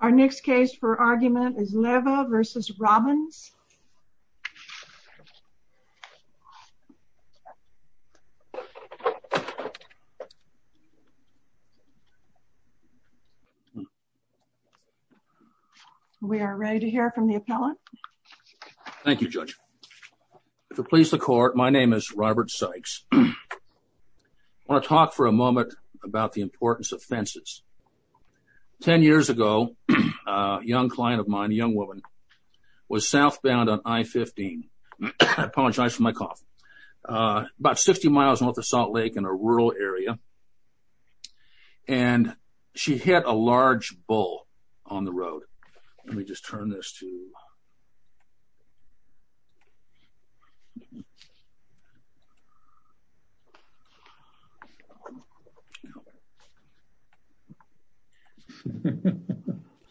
Our next case for argument is Leva v. Robbins. We are ready to hear from the appellant. Thank you Judge. If it pleases the court, my name is Robert Sykes. I want to talk for a moment about the importance of fences. Ten years ago, a young client of mine, a young woman, was southbound on I-15. I apologize for my cough. About 60 miles north of Salt Creek.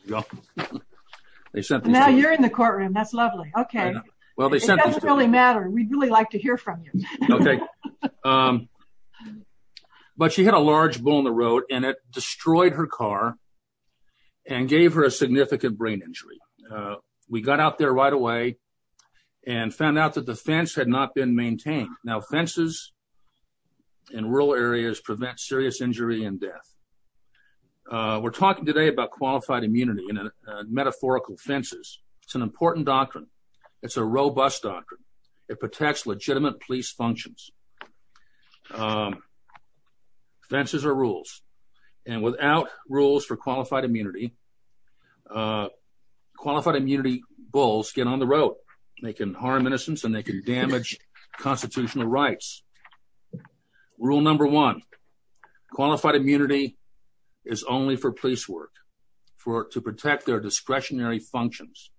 Now you're in the courtroom. That's lovely. Okay. It doesn't really matter. We'd really like to hear from you. Okay. But she had a large bull in the road and it destroyed her car and gave her a significant brain injury. We got out there right away and found out that the fence had not been maintained. Now fences in rural areas prevent serious injury and death. We're talking today about qualified immunity and metaphorical fences. It's an important doctrine. It's a robust doctrine. It protects legitimate police functions. Fences are rules and without rules for qualified immunity, qualified immunity bulls get on the road. They can harm innocents and they can damage constitutional rights. Rule number one, qualified immunity is only for police work to protect their discretionary functions.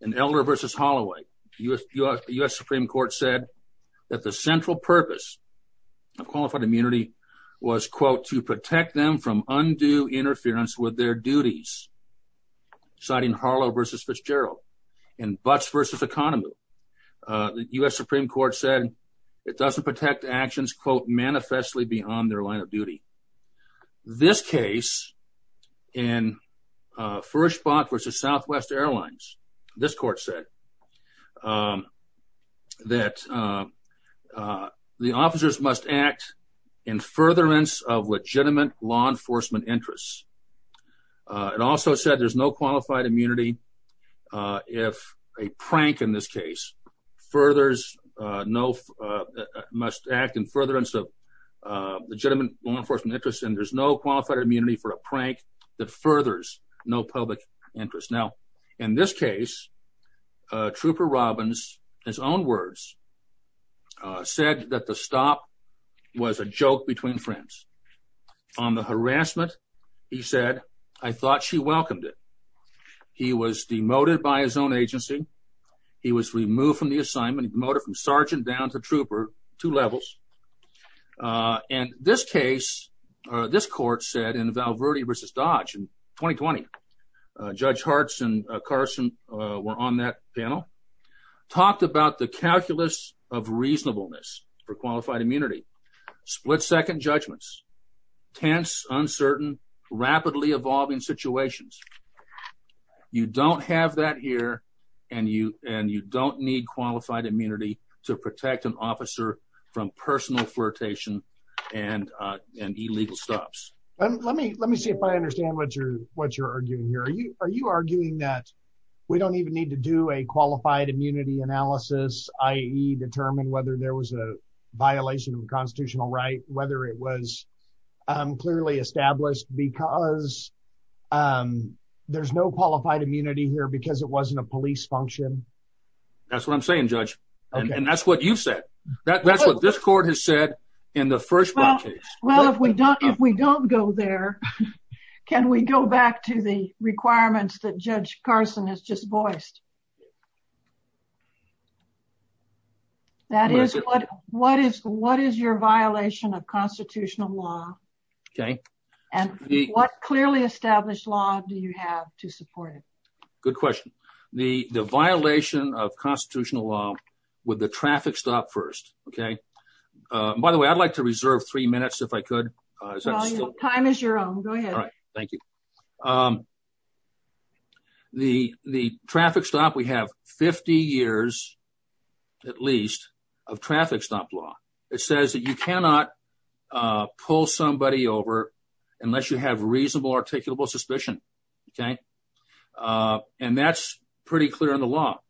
In Elder v. Holloway, the U.S. Supreme Court said that the central purpose of qualified immunity was, quote, to protect them from undue interference with their duties. Citing Harlow v. Fitzgerald. In Butts v. Economy, the U.S. Supreme Court said it doesn't protect actions, quote, manifestly beyond their line of duty. This case in Furish the officers must act in furtherance of legitimate law enforcement interests. It also said there's no qualified immunity if a prank in this case must act in furtherance of legitimate law enforcement interests and there's no qualified immunity for a prank that furthers no public interest. Now in this case, Trooper Robbins, his own words, said that the stop was a joke between friends. On the harassment, he said, I thought she welcomed it. He was demoted by his own agency. He was removed from the assignment, demoted from sergeant down to trooper, two levels. And this case, this court said, in Val Verde v. Dodge in 2020, Judge Hartz and Carson were on that panel, talked about the calculus of reasonableness for qualified immunity, split-second judgments, tense, uncertain, rapidly evolving situations. You don't have that here and you don't need qualified immunity to protect an Let me let me see if I understand what you're what you're arguing here. Are you are you arguing that we don't even need to do a qualified immunity analysis, i.e. determine whether there was a violation of constitutional right, whether it was clearly established because there's no qualified immunity here because it wasn't a police function. That's what I'm saying, Judge. And that's what you've said. That's what this court has said in the first case. Well, if we don't, if we don't go there, can we go back to the requirements that Judge Carson has just voiced? That is what what is what is your violation of constitutional law? Okay. And what clearly established law do you have to support it? Good question. The the violation of constitutional law with the traffic stop first. Okay. By the way, I'd like to reserve three minutes if I could. Time is your own. Go ahead. All right. Thank you. The the traffic stop, we have 50 years at least of traffic stop law. It says that you cannot pull somebody over unless you have reasonable articulable suspicion. Okay. And that's pretty clear in the law.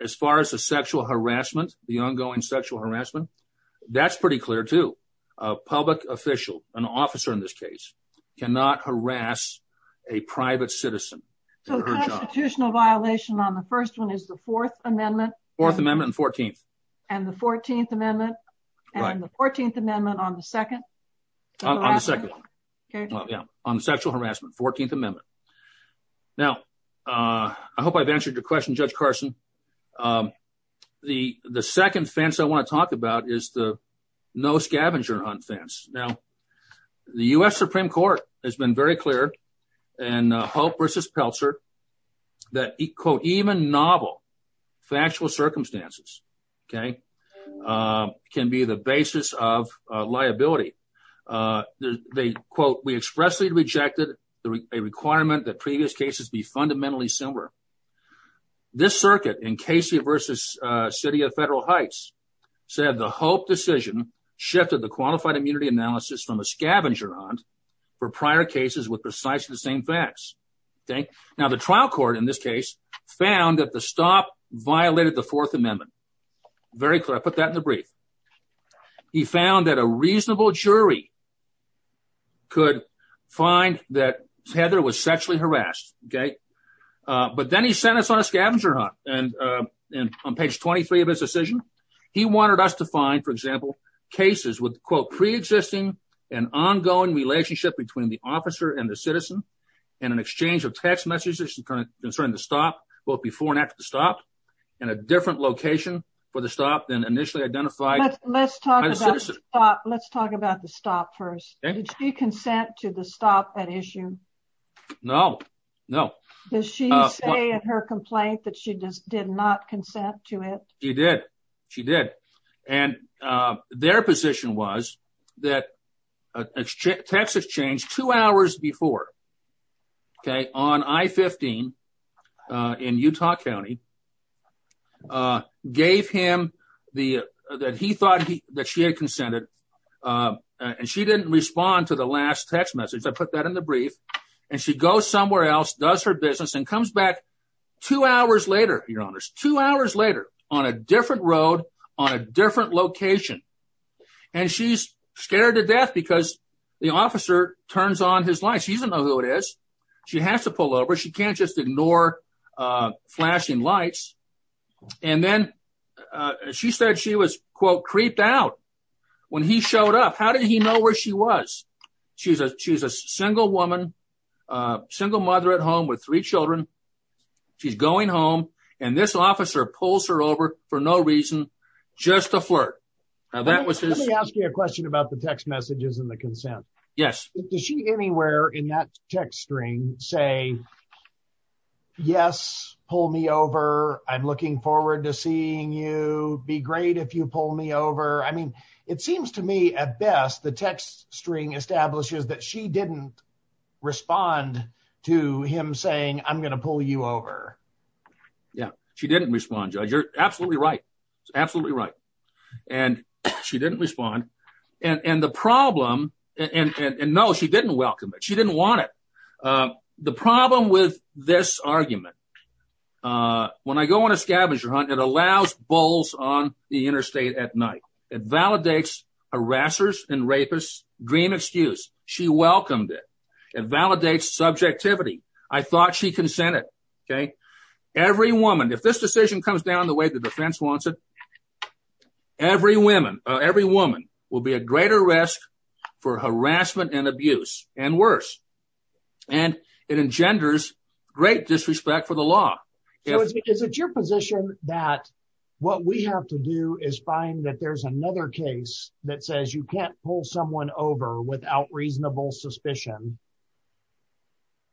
As far as the sexual harassment, the ongoing sexual harassment, that's pretty clear to a public official, an officer in this case, cannot harass a private citizen. So the constitutional violation on the first one is the Fourth Amendment. Fourth Amendment and 14th. And the 14th Amendment. And the 14th Amendment on the second on the second on sexual harassment, 14th Amendment. Now, I hope I've answered your question, Judge Carson. The the second fence I want to talk about is the no scavenger hunt fence. Now, the US Supreme Court has been very clear and hope versus peltzer. That quote, even novel factual circumstances, okay, can be the basis of liability. They quote, we expressly rejected the requirement that previous cases be fundamentally similar. This circuit in Casey versus city of federal heights, said the hope decision shifted the qualified immunity analysis from a scavenger hunt for prior cases with precisely the same facts. Okay. Now, the trial court in this case, found that the stop violated the Fourth Amendment. Very clear. I put that in the brief. He found that a reasonable jury could find that Heather was sexually harassed. Okay. But then he sent us on a scavenger hunt. And, and on page 23 of his decision, he wanted us to find for example, cases with quote, pre existing and ongoing relationship between the officer and the citizen, and an exchange of text messages to kind of concern the stop, both before and after the stop, and a different location for the stop then initially identified. Let's talk about the stop first. Did she consent to the stop at issue? No, no. Does she say in her complaint that she just did not consent to it? She did. She did. And their position was that Texas changed two hours before. Okay, on I 15 in Utah County, gave him the that he thought he that she had consented. And she didn't respond to the last text message. I put that in the brief. And she goes somewhere else does her business and comes back two hours later, your honors two hours later on a different road on a different location. And she's scared to death because the officer turns on his life. She doesn't know who it is. She has to pull over. She can't just ignore flashing lights. And then she said she was quote creeped out. When he showed up. How did he know where she was? She's a she's a single woman, single mother at home with three children. She's going home. And this officer pulls her over for no reason. Just a flirt. Now that was just asking a question about the text messages and the consent. Yes. Does she anywhere in that text string say? Yes, pull me over. I'm looking forward to seeing you be great if you pull me over. I mean, it seems to me at best the text string establishes that she didn't respond to him saying I'm going to pull you over. Yeah, she didn't respond. You're absolutely right. Absolutely right. And she didn't respond. And the problem. And no, she didn't welcome it. She didn't want it. The problem with this argument. When I go on a scavenger hunt, it allows bulls on the interstate at night. It validates harassers and rapists dream excuse. She welcomed it. It validates subjectivity. I thought she consented. Okay. Every woman if this decision comes down the way the defense wants it. Every woman, every woman will be at greater risk for harassment and abuse and worse. And it engenders great disrespect for the law. Is it your position that what we have to do is find that there's another case that says you can't pull someone over without reasonable suspicion?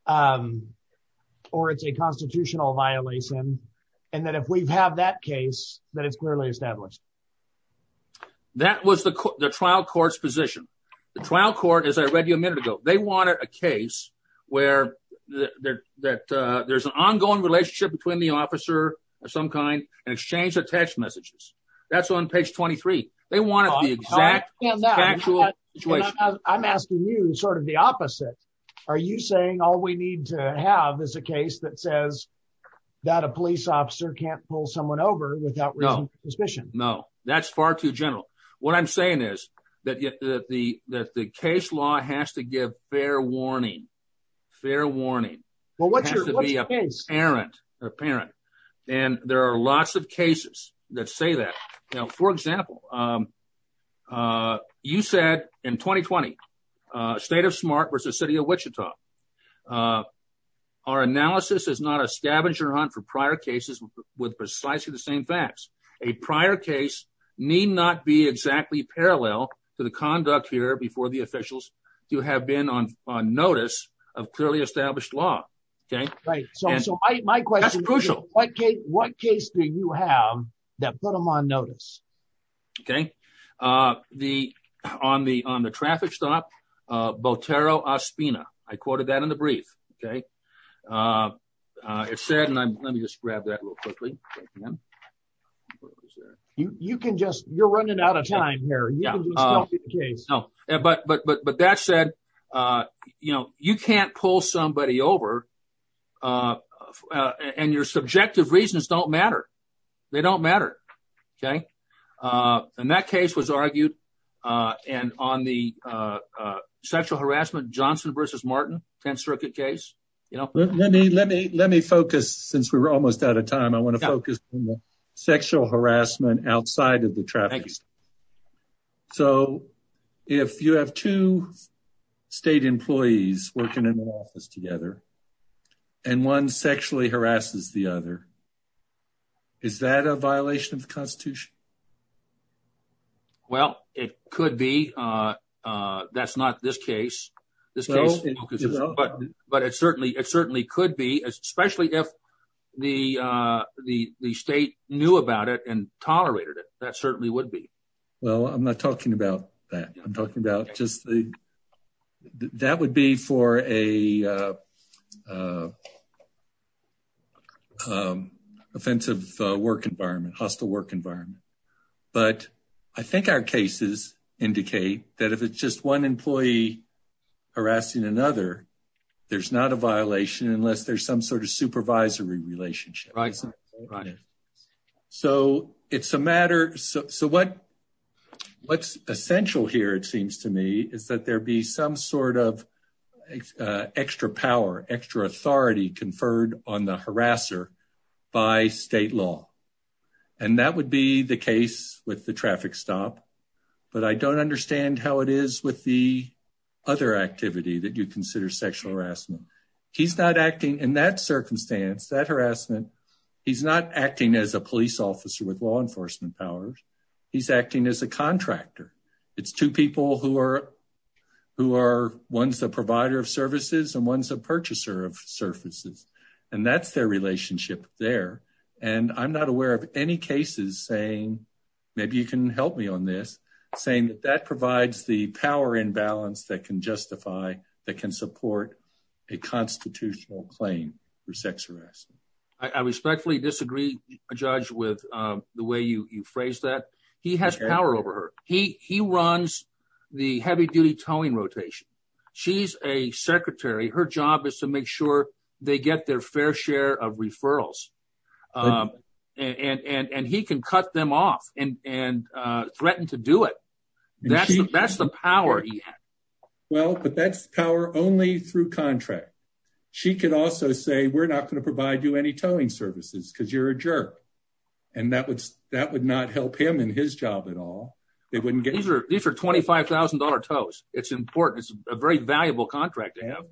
Or it's a constitutional violation? And that if we have that case that it's clearly established? That was the trial courts position. The trial court is I read you a minute ago, they wanted a case where that there's an ongoing relationship between the officer or some kind and exchange messages. That's on page 23. They want to be exact. I'm asking you sort of the opposite. Are you saying all we need to have is a case that says that a police officer can't pull someone over without real suspicion? No, that's far too general. What I'm saying is that the that the case law has to give fair warning. Fair warning. Well, what's your parents apparent? And there are lots of cases that say that, you know, for example, you said in 2020, state of smart versus city of Wichita. Our analysis is not a scavenger hunt for prior cases with precisely the same facts. A prior case need not be exactly parallel to the conduct here before the officials do have been on notice of established law. Okay, right. So my question is crucial. What case do you have that put them on notice? Okay. The on the on the traffic stop. Botero Aspina. I quoted that in the brief. Okay. It said and I'm going to just grab that real quickly. You can just you're running out of time here. Yeah. No, but but but but that said, you know, you can't pull somebody over. And your subjective reasons don't matter. They don't matter. Okay. And that case was argued. And on the sexual harassment, Johnson versus Martin 10th Circuit case, you know, let me let me let me focus since we were almost out of time. I want to focus on the sexual harassment outside of the traffic. So if you have two state employees working in an office together and one sexually harasses the other, is that a violation of the Constitution? Well, it could be. That's not this case. But but it certainly it certainly could be, especially if the the the state knew about it and tolerated it. That certainly would be. Well, I'm not talking about that. I'm talking about just the that would be for a offensive work environment, hostile work environment. But I think our cases indicate that if it's just one employee harassing another, there's not a violation unless there's some sort of supervisory relationship. So it's a matter. So what what's essential here, it seems to me, is that there be some sort of extra power, extra authority conferred on the harasser by state law. And that would be the case with the traffic stop. But I don't understand how it is with the other activity that you consider sexual harassment. He's not acting in that circumstance, that harassment. He's not acting as a police officer with law enforcement powers. He's acting as a contractor. It's two people who are who are one's the provider of services and one's a purchaser of services. And that's their relationship there. And I'm not aware of any cases saying maybe you can help me on this, saying that that provides the power imbalance that can justify that can support a constitutional claim for sex harassment. I respectfully disagree, Judge, with the way you phrase that. He has power over her. He he runs the heavy duty towing rotation. She's a secretary. Her job is to make sure they get their fair share of referrals. And and he can cut them off and and threaten to do it. That's that's the power. Well, but that's power only through contract. She could also say we're not going to provide you any towing services because you're a jerk. And that would that would not help him in his job at all. They wouldn't get these are these are twenty five thousand dollar tows. It's important. It's a very valuable contract to have.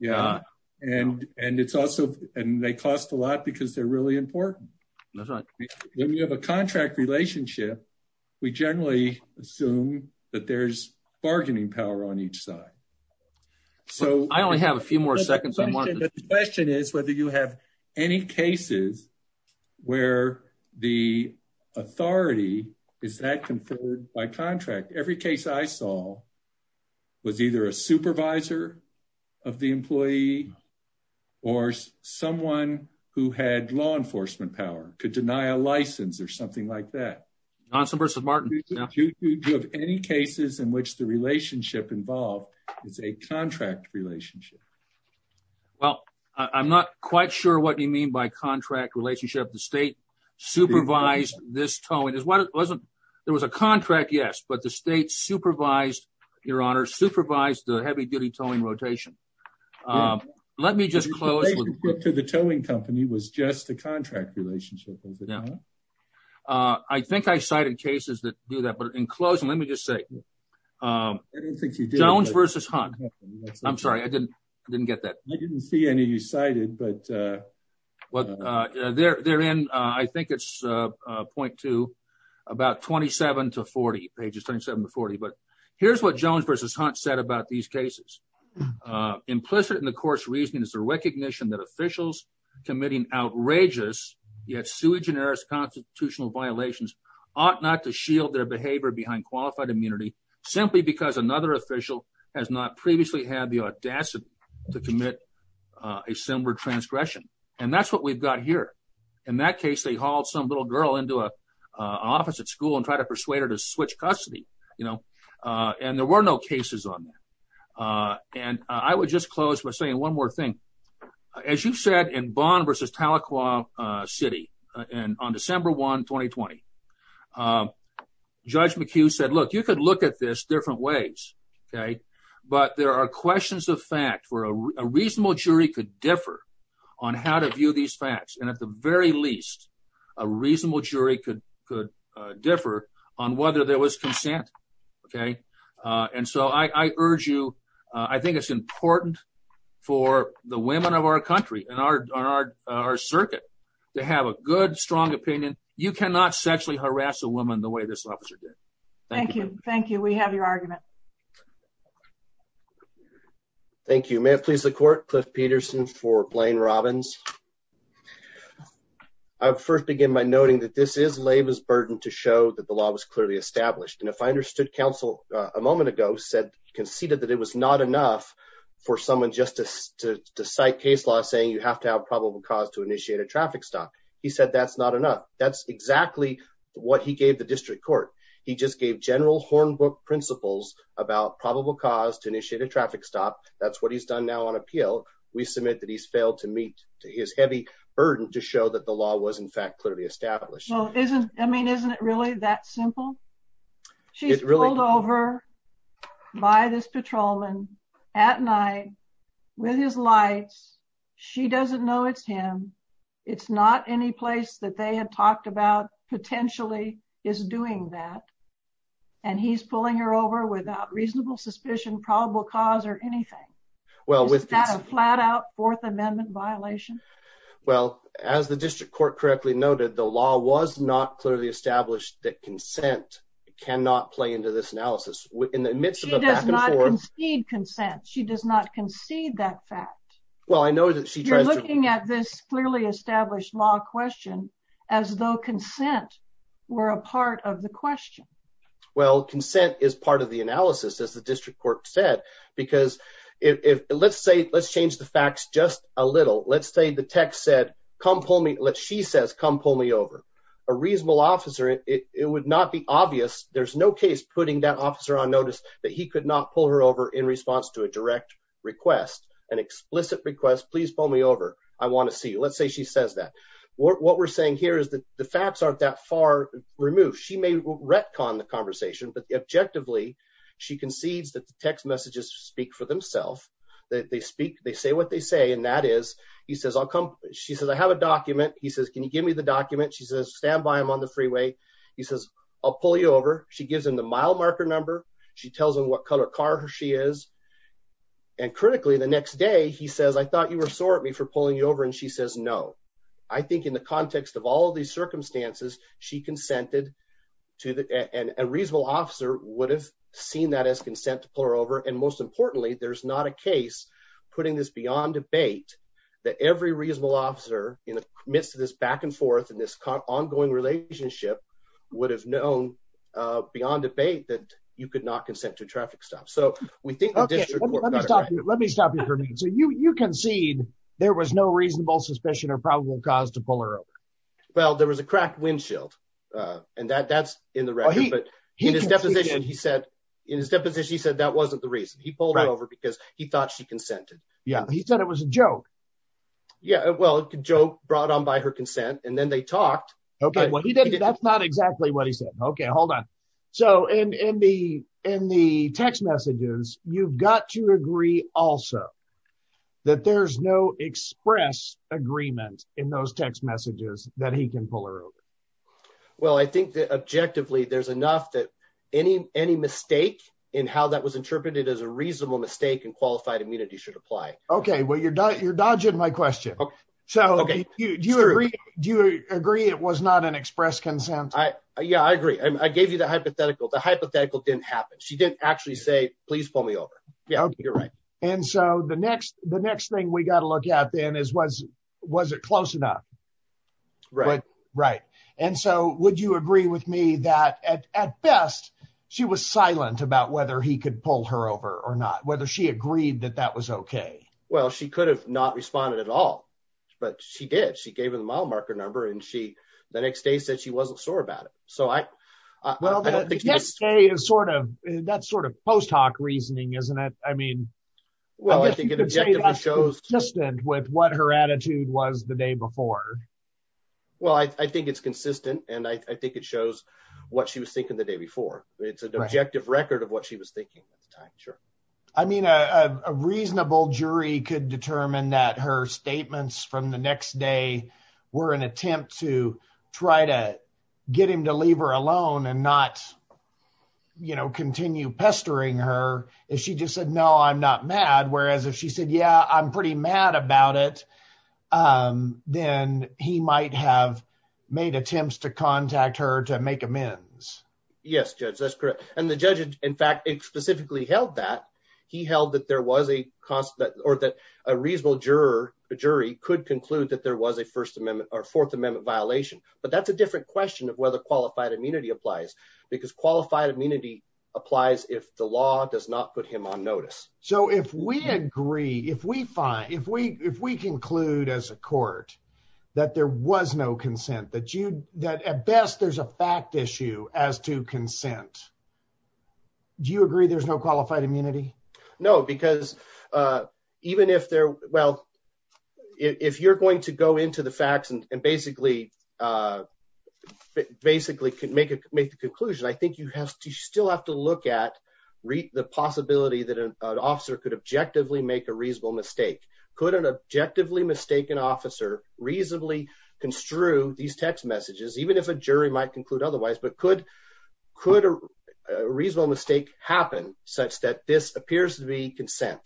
Yeah. And and it's also and they cost a lot because they're really important. That's right. When you have a contract relationship, we generally assume that there's bargaining power on each side. So I only have a few more seconds. The question is whether you have any cases where the authority is that conferred by contract. Every case I saw was either a supervisor of the employee or someone who had law enforcement power could deny a license or something like that. Johnson versus Martin. Do you have any cases in which the relationship involved is a contract relationship? Well, I'm not quite sure what you mean by contract relationship. The state supervised this towing is what it wasn't. There was a contract. Yes. But the state supervised your honor, supervised the heavy duty towing rotation. Let me just close to the towing company was just a contract relationship. I think I cited cases that do that. But in closing, let me just say Jones versus Hunt. I'm sorry. I didn't I didn't get that. I didn't see any you cited. But pages 27 to 40. But here's what Jones versus Hunt said about these cases. Implicit in the court's reasoning is the recognition that officials committing outrageous, yet sui generis constitutional violations ought not to shield their behavior behind qualified immunity simply because another official has not previously had the audacity to commit a similar transgression. And that's what we've got here. In that case, they hauled some little girl into an office at school and tried to persuade her to switch custody. And there were no cases on that. And I would just close by saying one more thing, as you said, in Bonn versus Tahlequah City and on December 1, 2020, Judge McHugh said, look, you could look at this different ways. But there are questions of fact where a reasonable jury could differ on how to view these facts. And at the very least, a reasonable jury could could differ on whether there was consent. Okay. And so I urge you, I think it's important for the women of our country and our circuit to have a good strong opinion. You cannot sexually harass a woman the way this officer did. Thank you. Thank you. We have your argument. Thank you. May it please the court, Cliff Peterson for Blaine Robbins. I would first begin by noting that this is labor's burden to show that the law was clearly established. And if I understood counsel a moment ago said conceded that it was not enough for someone just to cite case law saying you have to have probable cause to initiate a traffic stop. He said that's not enough. That's exactly what he gave the district court. He just gave general principles about probable cause to initiate a traffic stop. That's what he's done now on appeal. We submit that he's failed to meet his heavy burden to show that the law was, in fact, clearly established. Well, isn't I mean, isn't it really that simple? She's ruled over by this patrolman at night with his lights. She doesn't know it's him. It's not any place that they had talked about potentially is doing that. And he's pulling her over without reasonable suspicion, probable cause or anything. Well, with that, a flat out Fourth Amendment violation. Well, as the district court correctly noted, the law was not clearly established that consent cannot play into this analysis in the midst of a back and forth. She does not concede consent. She does not concede that fact. Well, I know that she's looking at this clearly established law question as though consent were a part of the question. Well, consent is part of the analysis, as the district court said, because if let's say let's change the facts just a little. Let's say the text said, come pull me. Let she says, come pull me over a reasonable officer. It would not be obvious. There's no case putting that officer on notice that he could not pull her over in response to a direct request, an explicit request. Please pull me over. I want to see you. Let's say she says that. What we're saying here is that the facts aren't that far removed. She may retcon the conversation, but objectively, she concedes that the text messages speak for themselves, that they speak, they say what they say. And that is, he says, I'll come. She says, I have a document. He says, can you give me the document? She says, stand by him on the freeway. He says, I'll pull you over. She gives him the mile marker number. She tells him what color car she is. And critically, the next day, he says, I thought you were sore at me for pulling you over. And she says, no, I think in the context of all these circumstances, she consented to that. And a reasonable officer would have seen that as consent to pull her over. And most importantly, there's not a case putting this beyond debate that every reasonable officer in the midst of this back and forth in this ongoing relationship would have known beyond debate that you could not consent to traffic stops. So we think let me stop you for me. So you concede there was no reasonable suspicion or probable cause to pull her over. Well, there was a cracked windshield. And that that's in the record. But he in his deposition, he said, in his deposition, he said that wasn't the reason he pulled over because he thought she consented. Yeah, he said it was a joke. Yeah, well, it could joke brought on by her consent, and then they talked. Okay, well, he didn't. That's not exactly what he said. Okay, hold on. So in the in the text messages, you've got to agree also, that there's no express agreement in those text messages that he can pull her over. Well, I think that objectively, there's enough that any any mistake in how that was interpreted as a reasonable mistake and qualified immunity should apply. Okay, well, you're you're dodging my question. Okay. So do you agree? Do you agree? It was not an express consent? I Yeah, I agree. I gave you the hypothetical. The hypothetical didn't happen. She didn't actually say please pull me over. Yeah, you're right. And so the next the next thing we got to look at then is was, was it close enough? Right, right. And so would you agree with me that at best, she was silent about whether he could pull her over or not whether she agreed that that was okay? Well, she could have not responded at all. But she did. She gave him my marker number. And she the next day said she wasn't sure about it. So I well, that's a sort of that sort of post hoc reasoning, isn't it? I mean, well, I think it shows just with what her attitude was the day before. Well, I think it's consistent. And I think it shows what she was thinking the day before. It's an objective record of what she was thinking at the time. Sure. I mean, a reasonable jury could determine that her statements from the next day were an attempt to try to get him to leave her alone and not, you know, continue pestering her is she just said, No, I'm not mad. Whereas if she said, Yeah, I'm pretty mad about it. Then he might have made attempts to contact her to make amends. Yes, Judge, that's correct. And the judge, in fact, specifically held that he held that there was a constant or that a reasonable juror, a jury could conclude that there was a First Amendment or Fourth Amendment violation. But that's a different question of whether qualified immunity applies, because qualified immunity applies if the law does not put him on notice. So if we agree, if we find if we if we conclude as a court, that there was no consent that you that at best, there's a fact issue as to consent. Do you agree there's no qualified immunity? No, because even if they're well, if you're going to go into the facts and basically, basically could make a make the conclusion, I think you have to still have to look at the possibility that an officer could objectively make a reasonable mistake. Could an objectively mistaken officer reasonably construe these text messages, even if a jury might conclude otherwise, but could, could a reasonable mistake happen such that this appears to be consent?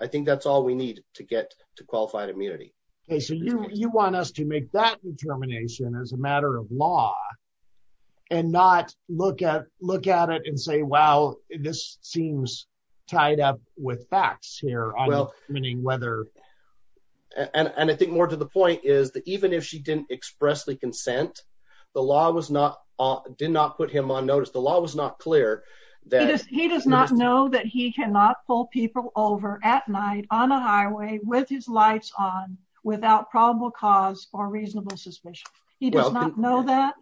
I think that's all we need to get to qualified immunity. Okay, so you want us to make that determination as a matter of law, and not look at look at it and say, Wow, this seems tied up with facts here. Whether and I think more to the point is that even if she didn't expressly consent, the law was not did not put him on notice. The law was not clear. He does not know that he cannot pull people over at night on a highway with his lights on without probable cause or reasonable suspicion. He does not know that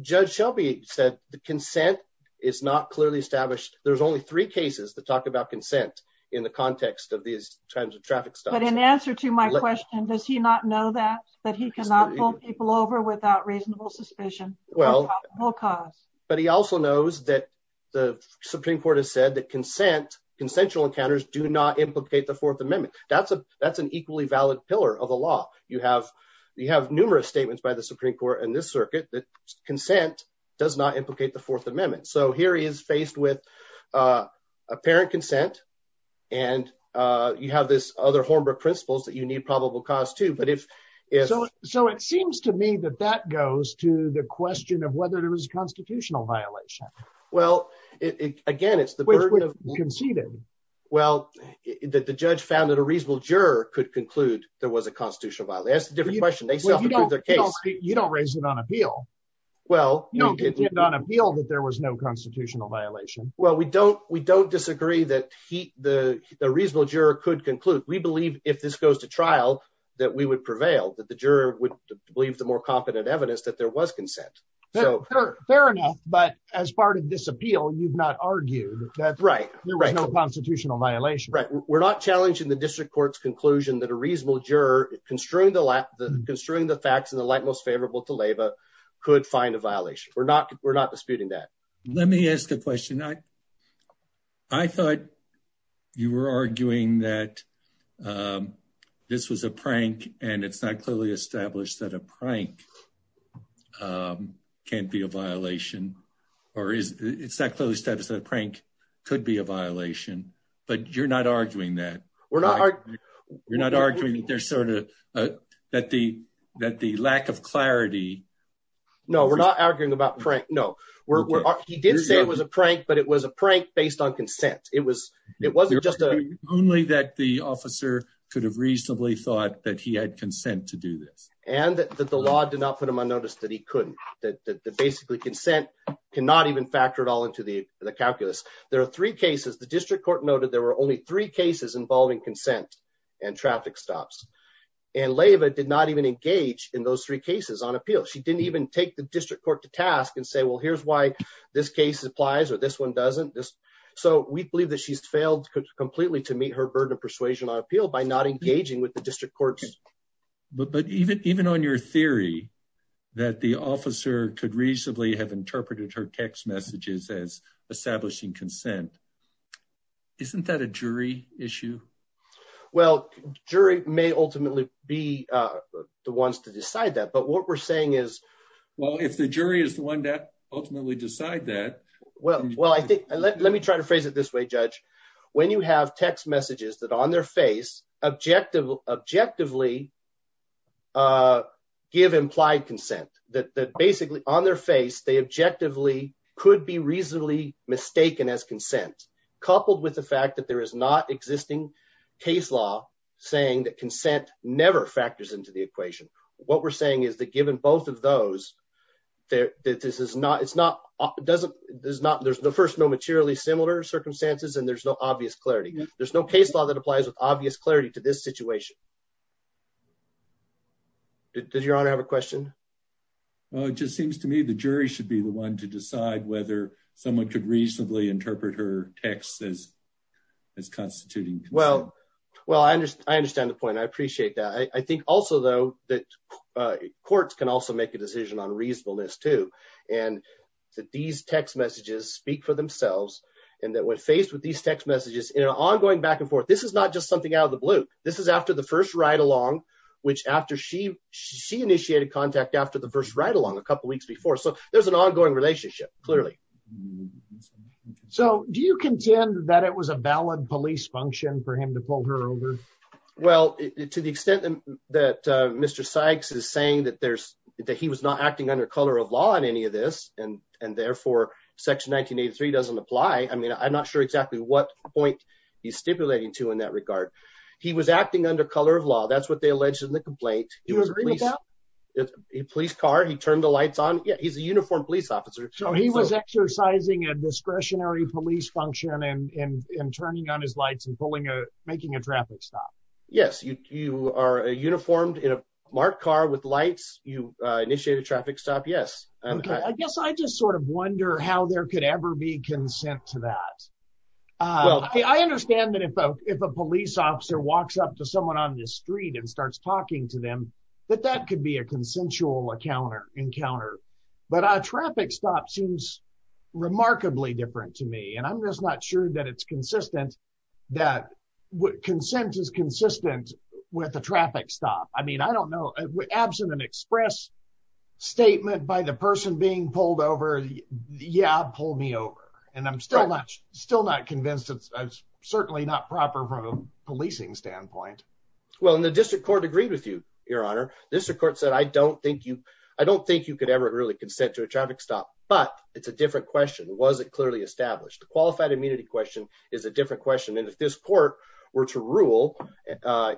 Judge Shelby said the consent is not clearly established. There's only three cases to talk about consent in the context of these kinds of traffic. But in answer to my question, does he not know that, that he cannot pull people over without reasonable suspicion? Well, because, but he also knows that the Supreme Court has said that consent, consensual encounters do not implicate the Fourth Amendment. That's a, that's an equally valid pillar of the law, you have, you have numerous statements by the Supreme Court and this circuit that consent does not implicate the Fourth Amendment. So here he is faced with apparent consent. And you have this other Hornbrook principles that you need probable cause to but if it's so it seems to me that that goes to the question of whether there was a constitutional violation. Well, it again, it's the burden of conceded. Well, that the judge found that a reasonable juror could conclude there was a constitutional violation. That's a different question. They still have their case. You don't raise it on appeal. Well, you don't get on appeal that there was no constitutional violation. Well, we don't we don't disagree that he the reasonable juror could conclude we believe if this goes to trial, that we would prevail that the juror would believe the more competent evidence that there was consent. So fair enough, but as part of this appeal, you've not argued that right, right constitutional violation, right? We're not challenging the district court's conclusion that reasonable juror construing the lap the construing the facts and the light most favorable to labor could find a violation. We're not we're not disputing that. Let me ask a question. I I thought you were arguing that this was a prank and it's not clearly established that a prank can't be a violation or is it's that close to have said a prank could be a violation, but you're not arguing that we're not. You're not arguing that there's sort of that the that the lack of clarity. No, we're not arguing about prank. No, we're we're. He did say it was a prank, but it was a prank based on consent. It was it wasn't just only that the officer could have reasonably thought that he had consent to do this and that the law did not put him on notice that he couldn't that basically consent cannot even factor at all to the calculus. There are three cases the district court noted. There were only three cases involving consent and traffic stops and labor did not even engage in those three cases on appeal. She didn't even take the district court to task and say, well, here's why this case applies or this one doesn't just so we believe that she's failed completely to meet her burden of persuasion on appeal by not engaging with the district courts. But even even on your theory that the officer could reasonably have interpreted her text messages as establishing consent. Isn't that a jury issue? Well, jury may ultimately be the ones to decide that. But what we're saying is, well, if the jury is the one that ultimately decide that. Well, well, I think let me try to phrase it this way, judge. When you have text messages that on their face, objective, objectively. Give implied consent that basically on their face, they objectively could be reasonably mistaken as consent, coupled with the fact that there is not existing case law saying that consent never factors into the equation. What we're saying is that given both of those, that this is not it's not doesn't there's not there's the first no materially similar circumstances and there's no obvious clarity. There's no case law that applies with obvious clarity to this situation. Does your honor have a question? Well, it just seems to me the jury should be the one to decide whether someone could reasonably interpret her texts as as constituting. Well, well, I understand. I understand the point. I appreciate that. I think also, though, that courts can also make a decision on reasonableness, too, and that these text messages speak for themselves and that we're faced with these text messages in an ongoing back and forth. This is not just something out of the blue. This is after the first ride along, which after she initiated contact after the first ride along a couple of weeks before. So there's an ongoing relationship, clearly. So do you contend that it was a valid police function for him to pull her over? Well, to the extent that Mr. Sykes is saying that there's that he was not acting under color of law in any of this and and therefore Section 1983 doesn't apply. I mean, I'm not sure exactly what point he's stipulating to in that regard. He was acting under color of law. That's what they alleged in the complaint. He was a police car. He turned the lights on. Yeah, he's a uniformed police officer. So he was exercising a discretionary police function and turning on his lights and pulling a making a traffic stop. Yes. You are a uniformed in a marked car with lights. You initiated a traffic stop. Yes. I guess I just sort of wonder how there could ever be consent to that. Well, I understand that if a police officer walks up to someone on the street and starts talking to them, that that could be a consensual encounter encounter. But a traffic stop seems remarkably different to me. And I'm just not sure that it's consistent that what consent is consistent with the traffic stop. I mean, I don't know, absent an express statement by the person being pulled over. Yeah, pull me over. And I'm still still not convinced. It's certainly not proper from a policing standpoint. Well, in the district court agreed with you, your honor. This report said, I don't think you I don't think you could ever really consent to a traffic stop. But it's a different question. Was it clearly established? The qualified immunity question is a different question. And if this court were to rule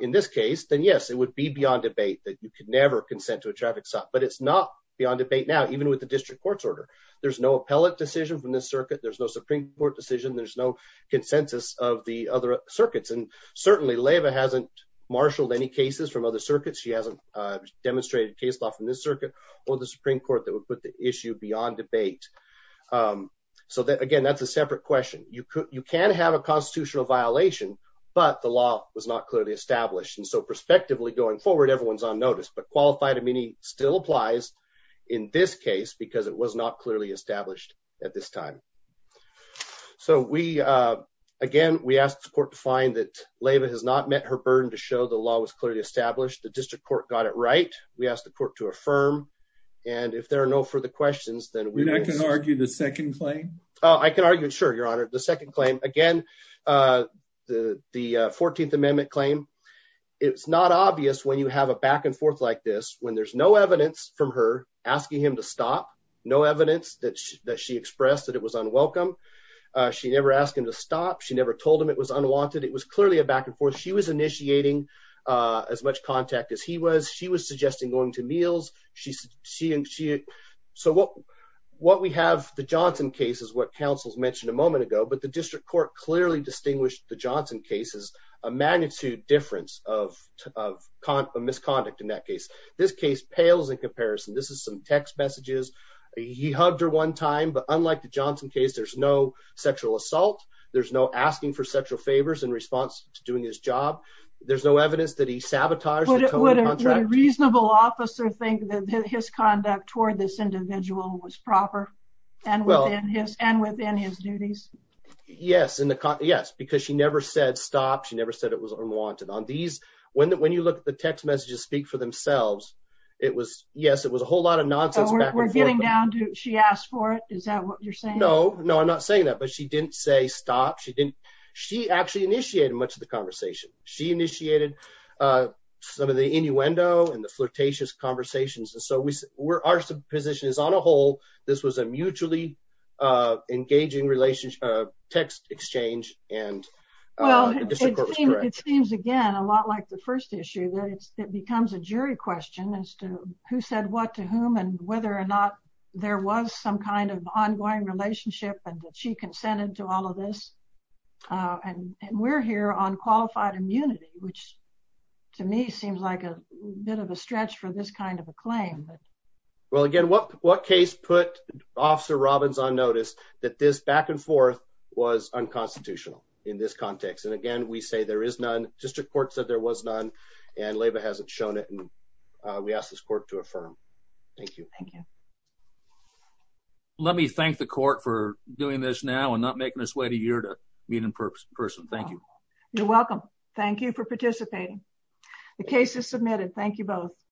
in this case, then, yes, it would be beyond debate that you could never consent to a traffic stop. But it's not beyond debate now, even with the district court's order. There's no appellate decision from the circuit. There's no Supreme Court decision. There's no consensus of the other circuits. And certainly Lava hasn't marshaled any cases from other circuits. She hasn't demonstrated case law from this circuit or the Supreme Court that would put the issue beyond debate. So that again, that's a separate question. You could you can have a constitutional violation, but the law was not clearly established. And so prospectively going forward, everyone's on notice. But qualified immunity still applies in this case because it was not clearly established at this time. So we again, we asked the court to find that Lava has not met her burden to show the law was clearly established. The district court got it right. We asked the court to affirm. And if there are no further questions, then we can argue the second claim. I can argue. Sure, Your Honor. The second claim again, the 14th Amendment claim. It's not obvious when you have a back and forth like this, when there's no evidence from her asking him to stop no evidence that she expressed that it was unwelcome. She never asked him to stop. She never told him it was unwanted. It was clearly a back and forth. She was initiating as much contact as he was. She was suggesting going to meals. She and she. So what what we have, the Johnson case is what counsels mentioned a moment ago. But the district court clearly distinguished the Johnson case is a magnitude difference of a misconduct in that case. This case pales in comparison. This is text messages. He hugged her one time. But unlike the Johnson case, there's no sexual assault. There's no asking for sexual favors in response to doing his job. There's no evidence that he sabotaged it. What a reasonable officer think that his conduct toward this individual was proper and well in his and within his duties. Yes. Yes. Because she never said stop. She never said it was unwanted on these. When you look at the text messages speak for themselves. It was yes, it was a whole lot of nonsense. We're getting down to she asked for it. Is that what you're saying? No, no, I'm not saying that. But she didn't say stop. She didn't. She actually initiated much of the conversation. She initiated some of the innuendo and the flirtatious conversations. And so we were our position is on a whole. This was a mutually engaging relationship, text exchange. And well, it seems, again, a lot like the first issue that it becomes a jury question as to who said what to whom and whether or not there was some kind of ongoing relationship and she consented to all of this. And we're here on qualified immunity, which to me seems like a bit of a stretch for this kind of a claim. Well, again, what what case put Officer Robbins on notice that this back and forth was unconstitutional in this context? And again, we say there is none district court said there was none. And labor hasn't shown it. And we asked this court to affirm. Thank you. Thank you. Let me thank the court for doing this now and not making us wait a year to meet in person. Thank you. You're welcome. Thank you for participating. The case is submitted. Thank you both.